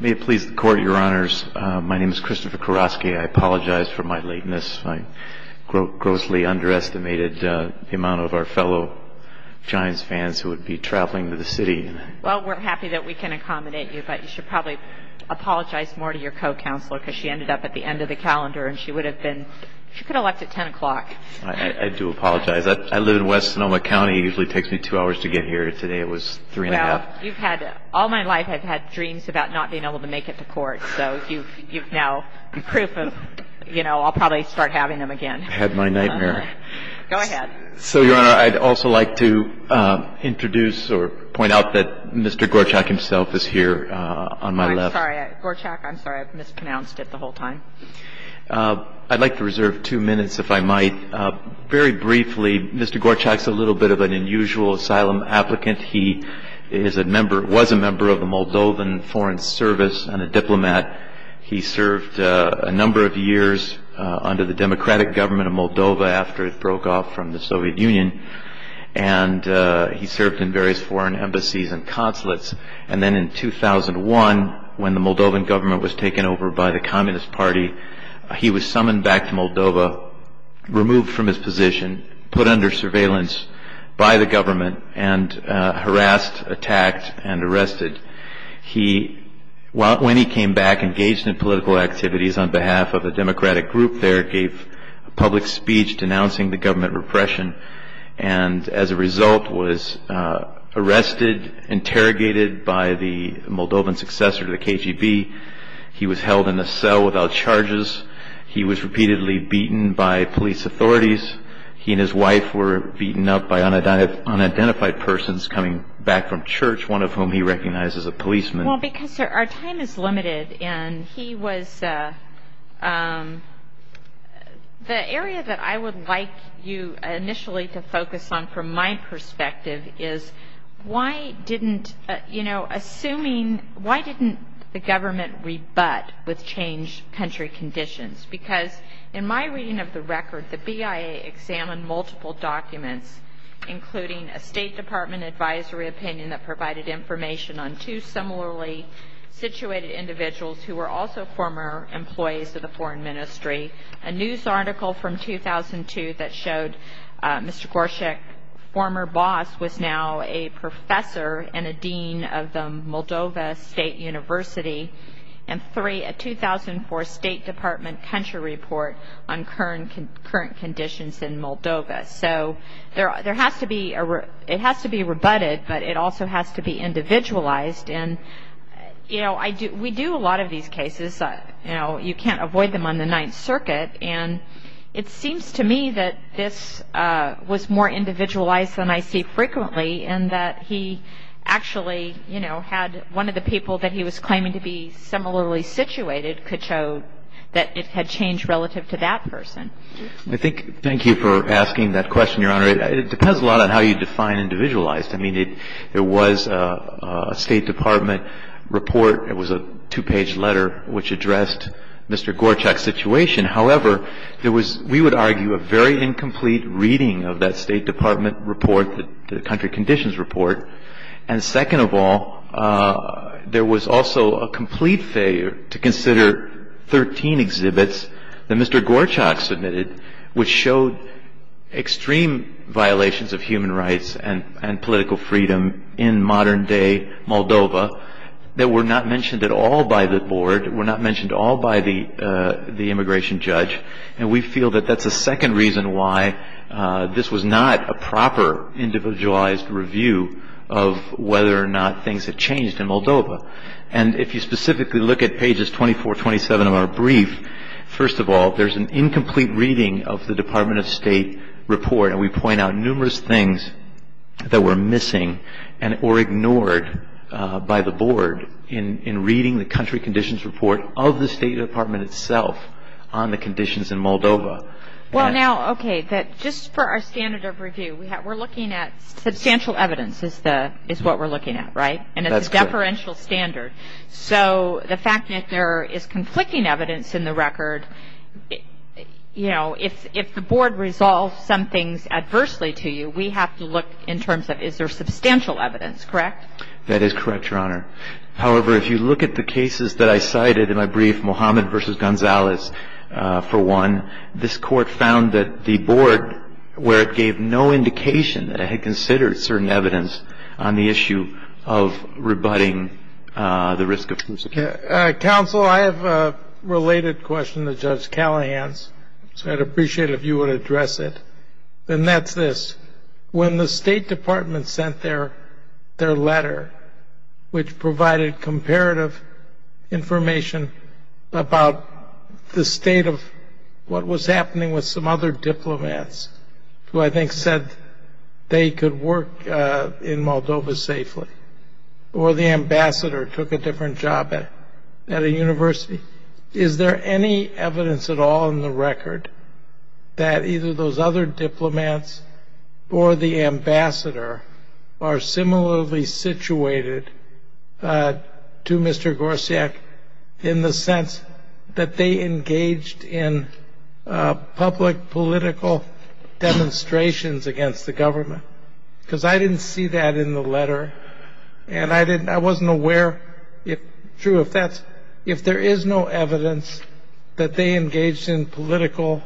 May it please the Court, Your Honors, my name is Christopher Kurowski. I apologize for my lateness. I grossly underestimated the amount of our fellow Giants fans who would be traveling to the city. Well, we're happy that we can accommodate you, but you should probably apologize more to your co-counselor, because she ended up at the end of the calendar, and she would have been, she could have left at ten o'clock. I do apologize. I live in West Sonoma County. It usually takes me two hours to get here. Today it was three and a half. Well, you've had, all my life I've had dreams about not being able to make it to court, so you've now, you're proof of, you know, I'll probably start having them again. I had my nightmare. Go ahead. So, Your Honor, I'd also like to introduce or point out that Mr. Gorceac himself is here on my left. I'm sorry. Gorceac, I'm sorry. I've mispronounced it the whole time. I'd like to reserve two minutes, if I might. Very briefly, Mr. Gorceac's a little bit of an unusual asylum applicant. He is a member, was a member of the Moldovan Foreign Service and a diplomat. He served a number of years under the democratic government of Moldova after it broke off from the Soviet Union, and he served in various foreign embassies and consulates, and then in 2001, when the Moldovan government was taken over by the Communist Party, he was summoned back to Moldova, removed from his position, put under surveillance by the government, and harassed, attacked, and arrested. He, when he came back, engaged in political activities on behalf of a democratic group there, gave a public speech denouncing the government repression, and as a result, was arrested, interrogated by the Moldovan successor to the KGB. He was held in a cell without unidentified persons coming back from church, one of whom he recognized as a policeman. Well, because our time is limited, and he was, the area that I would like you initially to focus on from my perspective is, why didn't, you know, assuming, why didn't the government rebut with changed country conditions? Because in my reading of the record, the BIA examined multiple documents, including a State Department advisory opinion that provided information on two similarly situated individuals who were also former employees of the foreign ministry, a news article from 2002 that showed Mr. Gorszak, former boss, was now a professor and a dean of the Moldova State University, and three, a 2004 State Department country report on current conditions in Moldova. So there has to be, it has to be rebutted, but it also has to be individualized, and, you know, we do a lot of these cases, you can't avoid them on the Ninth Circuit, and it seems to me that this was more individualized than I see frequently, in that he actually, you know, had one of the people that he was I think, thank you for asking that question, Your Honor. It depends a lot on how you define individualized. I mean, it was a State Department report, it was a two-page letter which addressed Mr. Gorszak's situation. However, there was, we would argue, a very incomplete reading of that State Department report, the country conditions report, and second of all, there was also a complete failure to consider 13 exhibits that Mr. Gorszak submitted which showed extreme violations of human rights and political freedom in modern-day Moldova that were not mentioned at all by the board, were not mentioned at all by the immigration judge, and we feel that that's the second reason why this was not a proper individualized review of whether or not things had changed in Moldova. And if you specifically look at pages 24, 27 of our brief, first of all, there's an incomplete reading of the Department of State report, and we point out numerous things that were missing or ignored by the board in reading the country conditions report of the State Department itself on the conditions in Moldova. Well, now, okay, just for our standard of review, we're looking at substantial evidence is what we're looking at, right? And it's a deferential standard. So the fact that there is conflicting evidence in the record, you know, if the board resolves some things adversely to you, we have to look in terms of is there substantial evidence, correct? That is correct, Your Honor. However, if you look at the cases that I cited in my brief, Mohammed v. Gonzalez, for one, this court found that the board, where it gave no indication that it had considered certain evidence on the issue of rebutting the risk of persecution. Counsel, I have a related question to Judge Callahan's, so I'd appreciate it if you would address it. And that's this. When the State Department sent their letter, which provided comparative information about the state of what was happening with some other diplomats who I think said they could work in Moldova safely, or the ambassador took a different job at a university, is there any evidence at all in the record that either those other diplomats or the ambassador are similarly situated to the State Department? To Mr. Gorsiak, in the sense that they engaged in public political demonstrations against the government? Because I didn't see that in the letter, and I wasn't aware. True, if there is no evidence that they engaged in political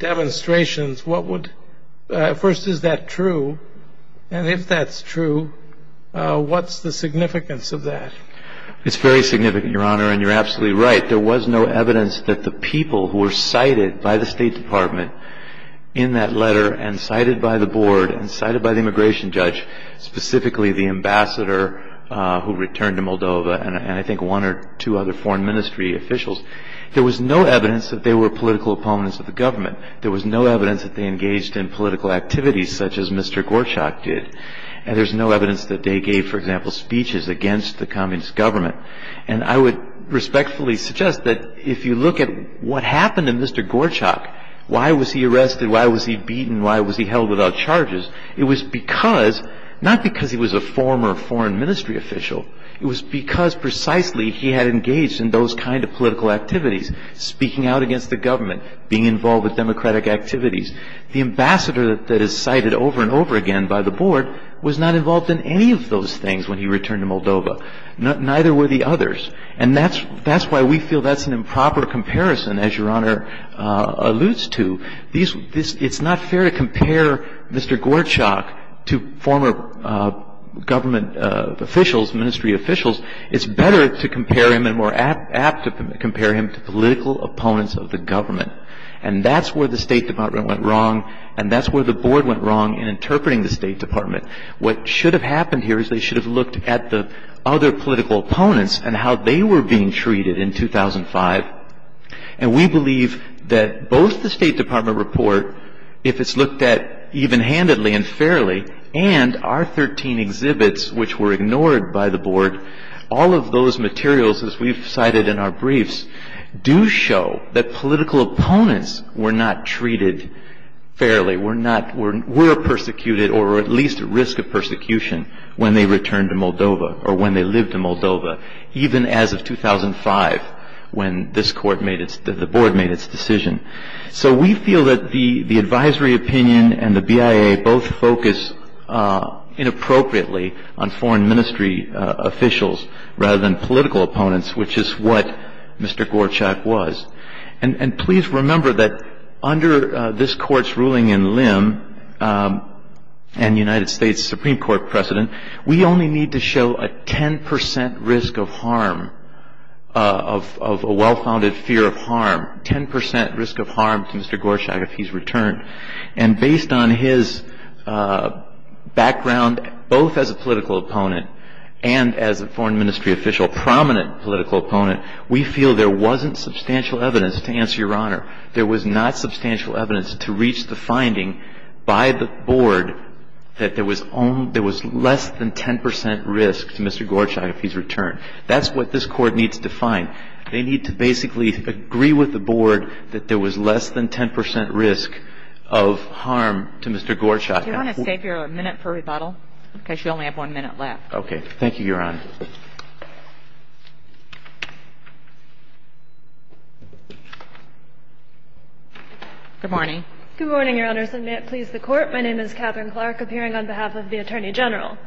demonstrations, what would, first is that true? And if that's true, what's the significance of that? It's very significant, Your Honor, and you're absolutely right. There was no evidence that the people who were cited by the State Department in that letter and cited by the board and cited by the immigration judge, specifically the ambassador who returned to Moldova, and I think one or two other foreign ministry officials, there was no evidence that they were political opponents of the government. There was no evidence that they engaged in activities such as Mr. Gorsiak did, and there's no evidence that they gave, for example, speeches against the communist government. And I would respectfully suggest that if you look at what happened to Mr. Gorsiak, why was he arrested, why was he beaten, why was he held without charges? It was because, not because he was a former foreign ministry official, it was because precisely he had engaged in those kind of political activities, speaking out against the government, being involved with democratic activities. The ambassador that is cited over and over again by the board was not involved in any of those things when he returned to Moldova. Neither were the others. And that's why we feel that's an improper comparison, as Your Honor alludes to. It's not fair to compare Mr. Gorsiak to former government officials, ministry officials. It's better to compare him and more apt to compare him to political opponents of the government. And that's where the State Department went wrong, and that's where the board went wrong in interpreting the State Department. What should have happened here is they should have looked at the other political opponents and how they were being treated in 2005. And we believe that both the State Department report, if it's looked at even-handedly and all of those materials as we've cited in our briefs, do show that political opponents were not treated fairly, were persecuted or at least at risk of persecution when they returned to Moldova or when they lived in Moldova, even as of 2005 when the board made its decision. So we feel that the advisory opinion and the BIA both focus inappropriately on foreign ministry officials rather than political opponents, which is what Mr. Gorsiak was. And please remember that under this Court's ruling in Lim and the United States Supreme Court precedent, we only need to show a 10 percent risk of harm, of a well-founded fear of harm, 10 percent risk of harm to Mr. Gorsiak if he's returned. And based on his background, both as a political opponent and as a foreign ministry official, prominent political opponent, we feel there wasn't substantial evidence, to answer Your Honor, there was not substantial evidence to reach the finding by the board that there was less than 10 percent risk to Mr. Gorsiak if he's returned. That's what this Court needs to find. They need to basically agree with the board that there was less than 10 percent risk of harm to Mr. Gorsiak. Do you want to save your minute for rebuttal? Because you only have one minute left. Okay. Thank you, Your Honor. Good morning. Good morning, Your Honors, and may it please the Court. My name is Catherine Clark, appearing on behalf of the Attorney General.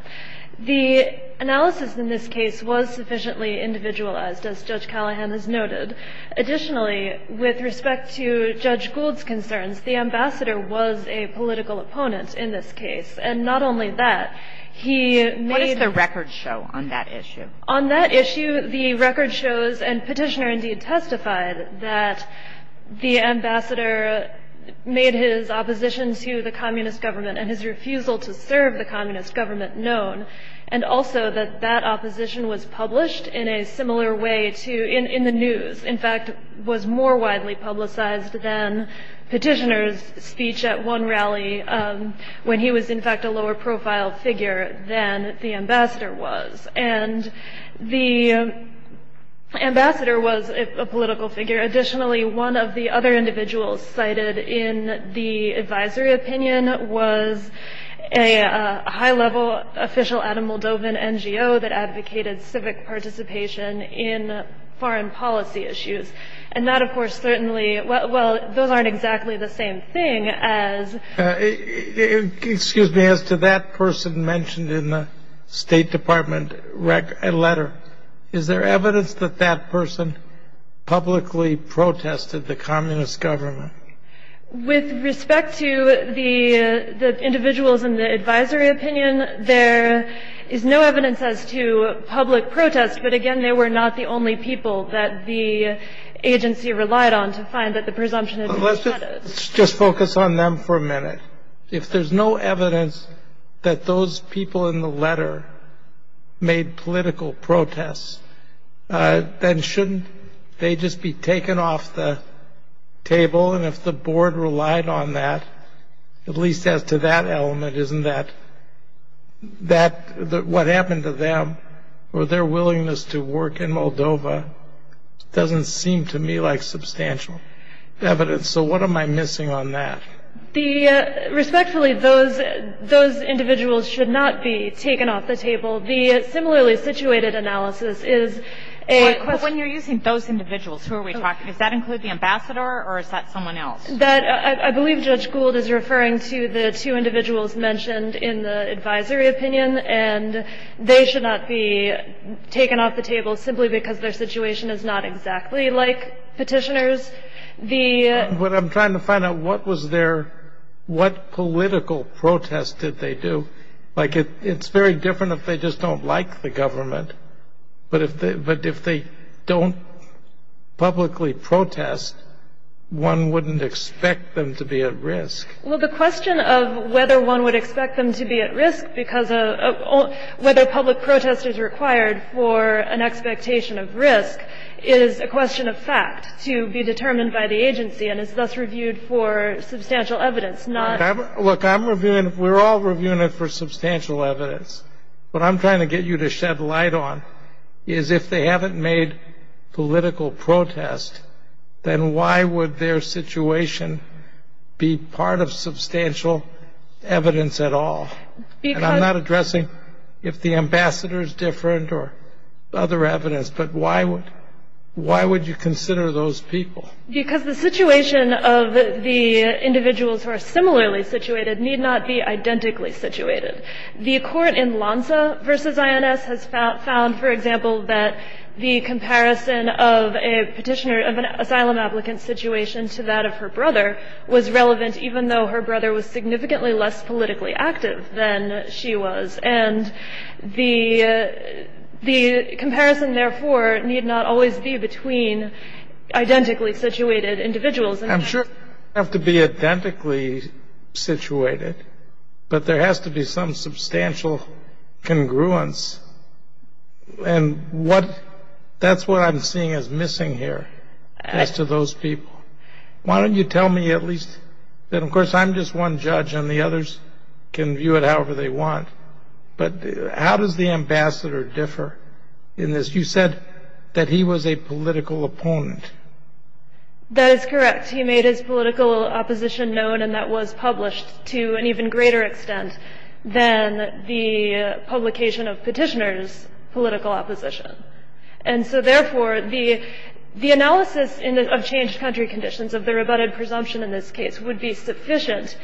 The analysis in this case was sufficiently individualized, as Judge Callahan has noted. Additionally, with respect to Judge Gould's concerns, the ambassador was a political opponent in this case. And not only that, he made What does the record show on that issue? On that issue, the record shows, and Petitioner indeed testified, that the ambassador made his opposition to the Communist government and his refusal to serve the Communist government known, and also that that opposition was published in a similar way to, in the news. In fact, was more widely publicized than Petitioner's speech at one rally, when he was in fact a lower profile figure than the ambassador was. And the ambassador was a political figure. Additionally, one of the other individuals cited in the advisory opinion was a high-level official at a Moldovan NGO that advocated civic participation in foreign policy issues. And that, of course, certainly, well, those aren't exactly the same thing as Excuse me. As to that person mentioned in the State Department letter, is there evidence that that person publicly protested the Communist government? With respect to the individuals in the advisory opinion, there is no evidence as to public protest, but again, they were not the only people that the agency relied on to find that the presumption had been shattered. Let's just focus on them for a minute. If there's no evidence that those people in the letter made political protests, then shouldn't they just be taken off the table and have the board relied on that? At least as to that element, isn't that what happened to them or their willingness to work in Moldova? Doesn't seem to me like substantial evidence. So what am I missing on that? Respectfully, those individuals should not be taken off the table. The similarly situated analysis is a question When you're using those individuals, who are we talking? Does that include the ambassador or is that someone else? That I believe Judge Gould is referring to the two individuals mentioned in the advisory opinion and they should not be taken off the table simply because their situation is not exactly like petitioners. What I'm trying to find out, what was their, what political protest did they do? Like it's very different if they just don't like the government, but if they don't publicly protest, one wouldn't expect them to be at risk. Well, the question of whether one would expect them to be at risk because of whether public protest is required for an expectation of risk is a question of fact to be determined by the agency and is thus reviewed for substantial evidence, not Look, I'm reviewing, we're all reviewing it for substantial evidence. What I'm trying to get you to shed light on is if they haven't made political protest, then why would their situation be part of substantial evidence at all? And I'm not addressing if the ambassador is different or other evidence, but why would, why would you consider those people? Because the situation of the individuals who are similarly situated need not be identically situated. The court in Lanza v. INS has found, for example, that the comparison of a petitioner of an asylum applicant's situation to that of her brother was relevant even though her brother was significantly less politically active than she was. And the comparison, therefore, need not always be between identically situated individuals. I'm sure it doesn't have to be identically situated, but there has to be some substantial congruence. And what, that's what I'm seeing as missing here as to those people. Why don't you tell me at least, and of course I'm just one judge and the others can view it however they want, but how does the ambassador differ in this? You said that he was a political opponent. That is correct. He made his political opposition known and that was published to an even greater extent than the publication of petitioner's political opposition. And so therefore, the analysis of changed country conditions of the rebutted presumption in this case would be sufficient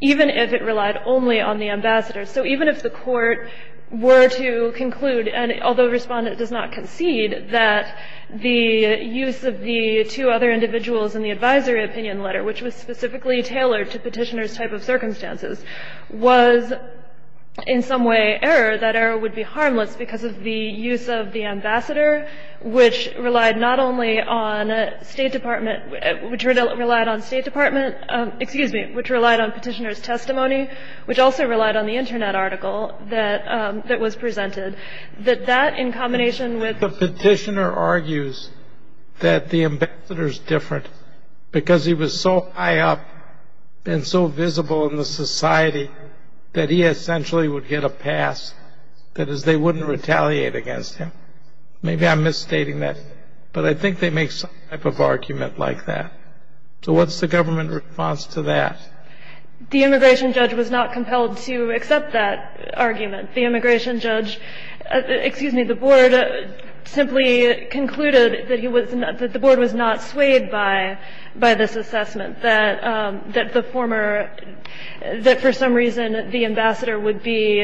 even if it relied only on the ambassador. So even if the court were to conclude, and although the respondent does not concede, that the use of the two other individuals in the advisory opinion letter, which was specifically tailored to petitioner's type of circumstances, was in some way error, that error would be harmless because of the use of the ambassador, which relied not only on State Department, which relied on State Department, excuse me, which relied on petitioner's testimony, which also relied on the internet article that was presented, that that in combination with... The petitioner argues that the ambassador's different because he was so high up and so visible in the society that he essentially would get a pass, that is they wouldn't retaliate against him. Maybe I'm misstating that, but I think they make some type of argument like that. So what's the government response to that? The immigration judge was not compelled to accept that argument. The immigration judge, excuse me, the board simply concluded that he was not, that the board was not swayed by this assessment, that the former, that for some reason the ambassador would be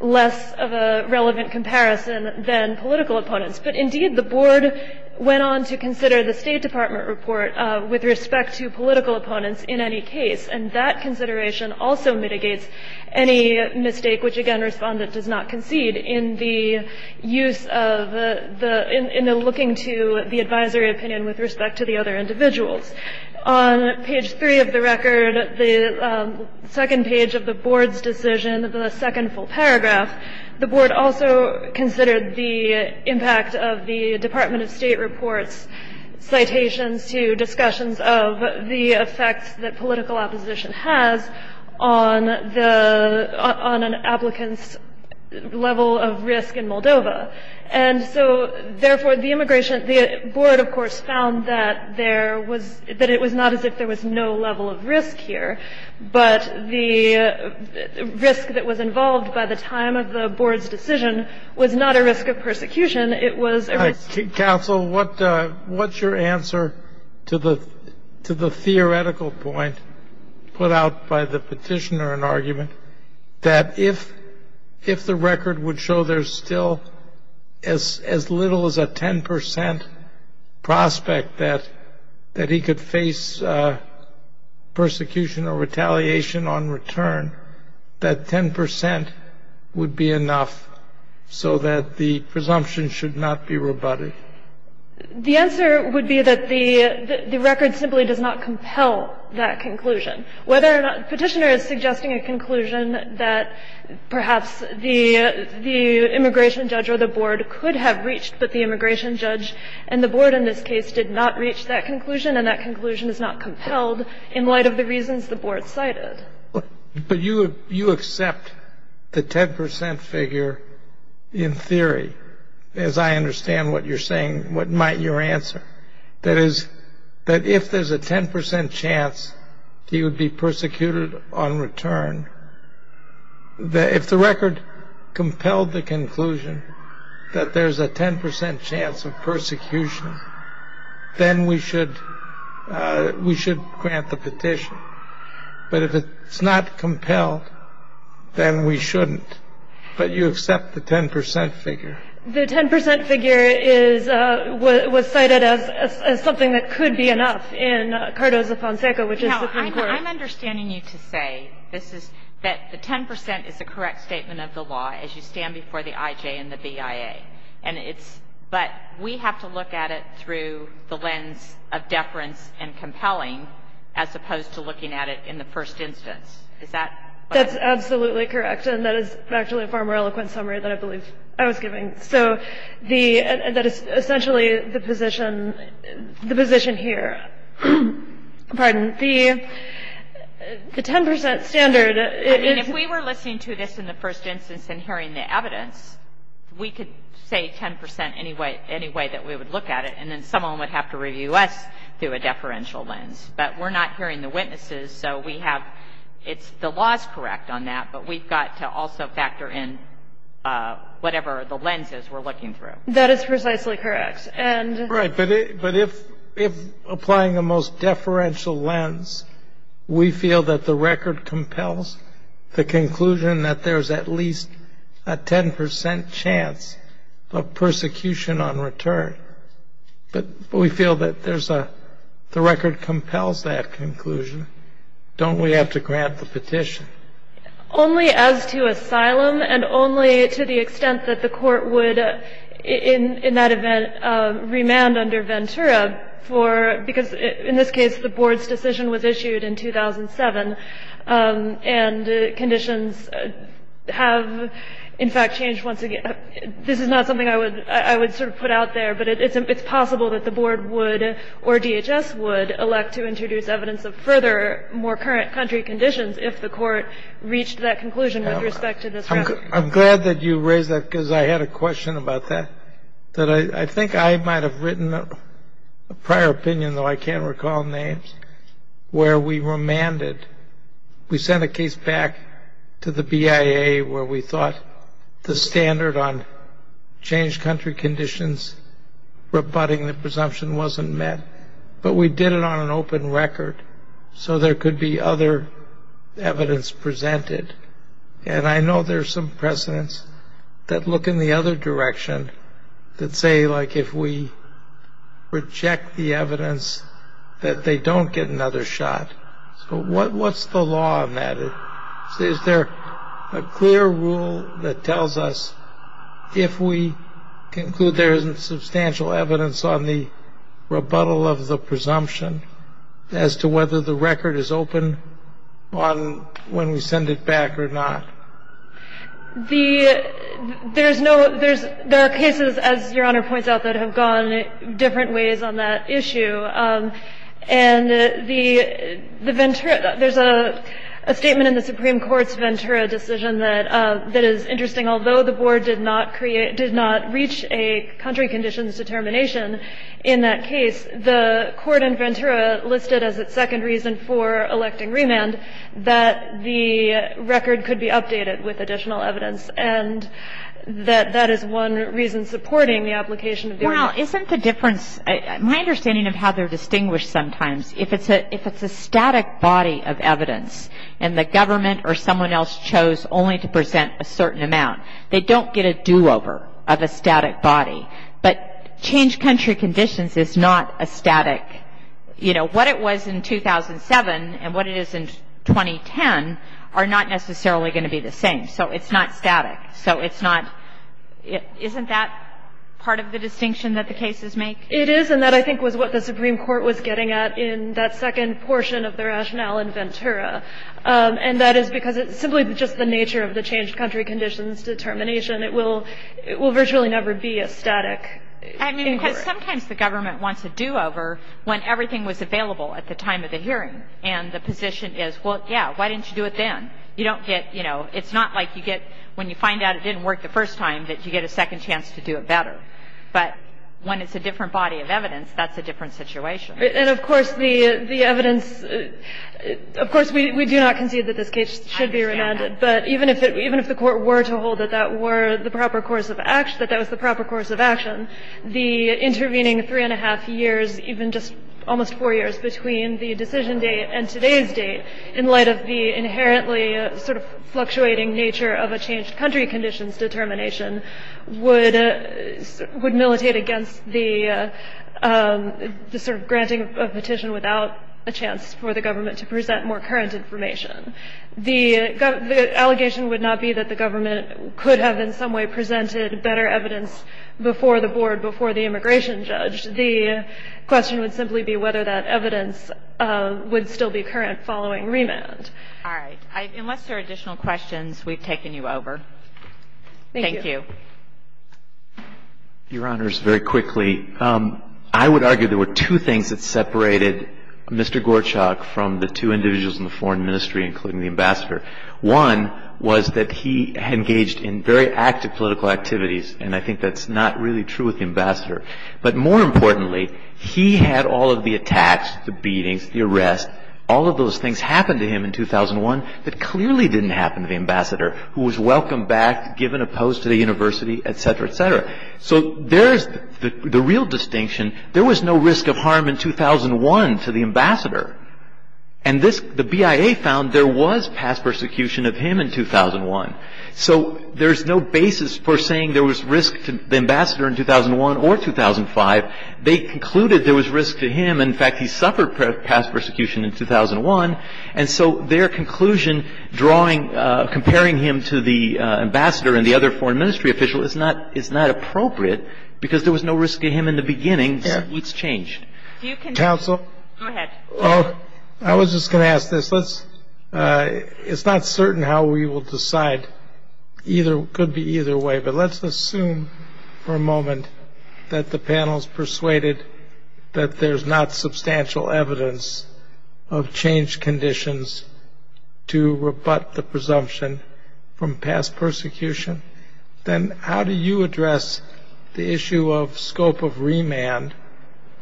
less of a relevant comparison than political opponents. But indeed the board went on to consider the State Department report with respect to political opponents in any case, and that consideration also mitigates any mistake, which again respondent does not concede, in the use of the, in the looking to the advisory opinion with respect to the other individuals. On page three of the record, the second page of the board's decision, the second full paragraph, the board also considered the impact of the Department of State report's citations to discussions of the effects that political opposition has on the, on an applicant's level of risk in Moldova. And so therefore the immigration, the board of course found that there was, that it was not as if there was no level of risk here, but the risk that was involved by the time of the board's decision was not a risk of persecution, it was a risk of Counsel, what, what's your answer to the, to the theoretical point put out by the petitioner in argument that if, if the record would show there's still as, as little as a 10 percent prospect that, that he could face persecution or retaliation on return, that 10 percent would be enough so that the presumption should not be rebutted? The answer would be that the, the record simply does not compel that conclusion. Whether or not the petitioner is suggesting a conclusion that perhaps the, the immigration judge or the board could have reached, but the immigration judge and the board in this case did not reach that conclusion and that conclusion is not compelled in light of the reasons the board cited. But you, you accept the 10 percent figure in theory, as I understand what you're saying, what might your answer? That is, that if there's a 10 percent chance he would be persecuted on return, that if the record compelled the conclusion that there's a 10 percent chance of persecution, then we should, we should grant the petition. But if it's, if it's not compelled, then we shouldn't. But you accept the 10 percent figure? The 10 percent figure is, was cited as, as something that could be enough in Cardozo-Fonseca, which is the Supreme Court. Now, I'm, I'm understanding you to say this is, that the 10 percent is the correct statement of the law as you stand before the IJ and the BIA. And it's, but we have to look at it through the lens of deference and compelling as opposed to looking at it in the first instance. Is that what you're saying? That's absolutely correct. And that is actually a far more eloquent summary than I believe I was giving. So the, that is essentially the position, the position here. Pardon. The, the 10 percent standard is I mean, if we were listening to this in the first instance and hearing the evidence, we could say 10 percent any way, any way that we would look at it. And then someone would have to review us through a deferential lens. But we're not hearing the witnesses, so we have, it's, the law is correct on that, but we've got to also factor in whatever the lens is we're looking through. That is precisely correct. And Right. But if, if applying the most deferential lens, we feel that the record compels the conclusion that there's at least a 10 percent chance of persecution on return. But we feel that there's a, the record compels that conclusion. Don't we have to grant the petition? Only as to asylum and only to the extent that the court would, in, in that event, remand under Ventura for, because in this case, the board's decision was issued in 2007 and conditions have, in fact, changed once again. This is not something I would, I would sort of put out there, but it's, it's possible that the board would, or DHS would elect to introduce evidence of further, more current country conditions if the court reached that conclusion with respect to this record. I'm glad that you raised that because I had a question about that, that I think I might have written a prior opinion, though I can't recall names, where we remanded, we sent a change country conditions rebutting the presumption wasn't met, but we did it on an open record, so there could be other evidence presented. And I know there's some precedents that look in the other direction that say, like, if we reject the evidence, that they don't get another shot. So what, what's the law on that? Is there a clear rule that tells us if we conclude there isn't substantial evidence on the rebuttal of the presumption as to whether the record is open on when we send it back or not? The, there's no, there's, there are cases, as Your Honor points out, that have gone different ways on that issue. And the, the Ventura, there's a statement in the Supreme Court's Ventura decision that, that is interesting. Although the Board did not create, did not reach a country conditions determination in that case, the court in Ventura listed as its second reason for electing remand that the record could be updated with additional evidence. And that, that is one reason supporting the application of the remand. Well, isn't the difference, my understanding of how they're distinguished sometimes, if it's a, if it's a static body of evidence and the government or someone else chose only to present a certain amount, they don't get a do-over of a static body. But change country conditions is not a static, you know, what it was in 2007 and what it is in 2010 are not necessarily going to be the same. So it's not static. So it's not, isn't that part of the distinction that the cases make? It is. And that, I think, was what the Supreme Court was getting at in that second portion of the rationale in Ventura. And that is because it's simply just the nature of the change country conditions determination. It will, it will virtually never be a static inquiry. I mean, because sometimes the government wants a do-over when everything was available at the time of the hearing. And the position is, well, yeah, why didn't you do it then? You don't get, you know, it's not like you get, when you find out it didn't work the But when it's a different body of evidence, that's a different situation. And, of course, the evidence, of course, we do not concede that this case should be remanded. But even if it, even if the Court were to hold that that were the proper course of action, that that was the proper course of action, the intervening three and a half years, even just almost four years, between the decision date and today's date, in light of the inherently sort of fluctuating nature of a change country conditions determination, would, would militate against the sort of granting of a petition without a chance for the government to present more current information. The allegation would not be that the government could have in some way presented better evidence before the Board, before the immigration judge. The question would simply be whether that evidence would still be current following remand. All right. Unless there are additional questions, we've taken you over. Thank you. Your Honors, very quickly, I would argue there were two things that separated Mr. Gorchak from the two individuals in the Foreign Ministry, including the Ambassador. One was that he engaged in very active political activities. And I think that's not really true with the Ambassador. But more importantly, he had all of the attacks, the beatings, the arrests, all of those things happened to him in 2001 that clearly didn't happen to the Ambassador, who was welcomed back, given a post to the university, etc., etc. So there's the real distinction. There was no risk of harm in 2001 to the Ambassador. And this, the BIA found there was past persecution of him in 2001. So there's no basis for saying there was risk to the Ambassador in 2001 or 2005. They concluded there was risk to him. In fact, he suffered past persecution in 2001. And so their conclusion drawing, comparing him to the Ambassador and the other Foreign Ministry official is not appropriate because there was no risk to him in the beginning. So it's changed. Do you con- Counsel? Go ahead. I was just going to ask this. Let's, it's not certain how we will decide. Either, could be either way. But let's assume for a moment that the panel's persuaded that there's not substantial evidence of changed conditions to rebut the presumption from past persecution. Then how do you address the issue of scope of remand?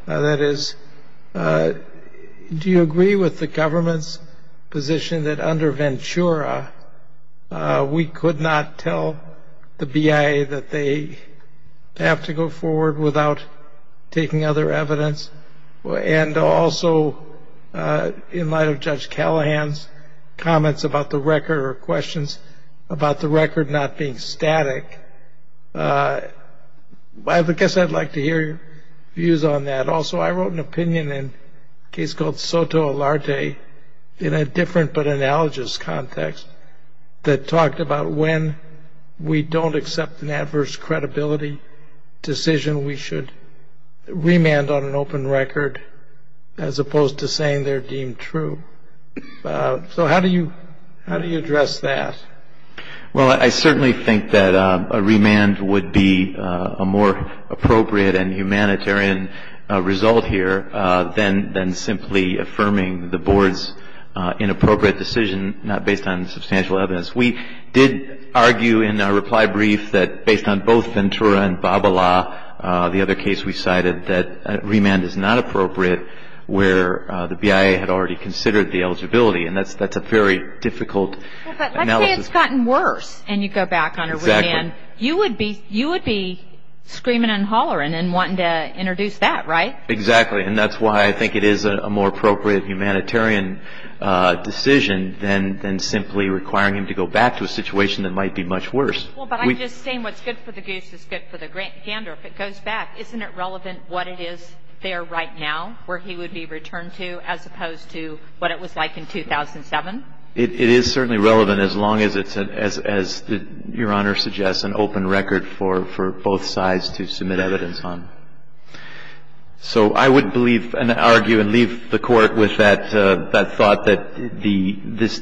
That is, do you agree with the government's position that under Ventura, we could not tell the BIA that they have to go forward without taking other evidence? And also, in light of Judge Callahan's comments about the record or questions about the record not being static, I guess I'd like to hear your views on that. Also, I wrote an opinion in a case called Soto Alarte in a different but analogous context that talked about when we don't accept an adverse credibility decision, we should remand on an open record as opposed to saying they're deemed true. So how do you, how do you address that? Well, I certainly think that a remand would be a more appropriate and humanitarian result here than simply affirming the board's inappropriate decision not based on substantial evidence. We did argue in a reply brief that based on both Ventura and Babala, the other case we cited, that remand is not appropriate where the BIA had already considered the eligibility. And that's a very difficult analysis. Well, but let's say it's gotten worse and you go back on a remand. You would be screaming and hollering and wanting to introduce that, right? Exactly. And that's why I think it is a more appropriate humanitarian decision than simply requiring him to go back to a situation that might be much worse. Well, but I'm just saying what's good for the goose is good for the gander. If it goes back, isn't it relevant what it is there right now where he would be returned to as opposed to what it was like in 2007? It is certainly relevant as long as it's, as Your Honor suggests, an open record for both sides to submit evidence on. So I would believe and argue and leave the Court with that thought that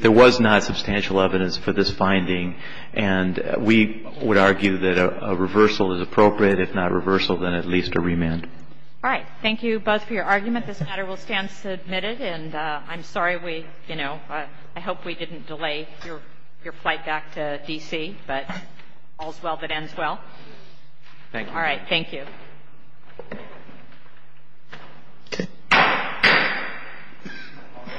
there was not substantial evidence for this finding. And we would argue that a reversal is appropriate. If not a reversal, then at least a remand. All right. Thank you both for your argument. This matter will stand submitted. And I'm sorry we, you know, I hope we didn't delay your flight back to D.C. But all's well that ends well. Thank you. All right. Thank you.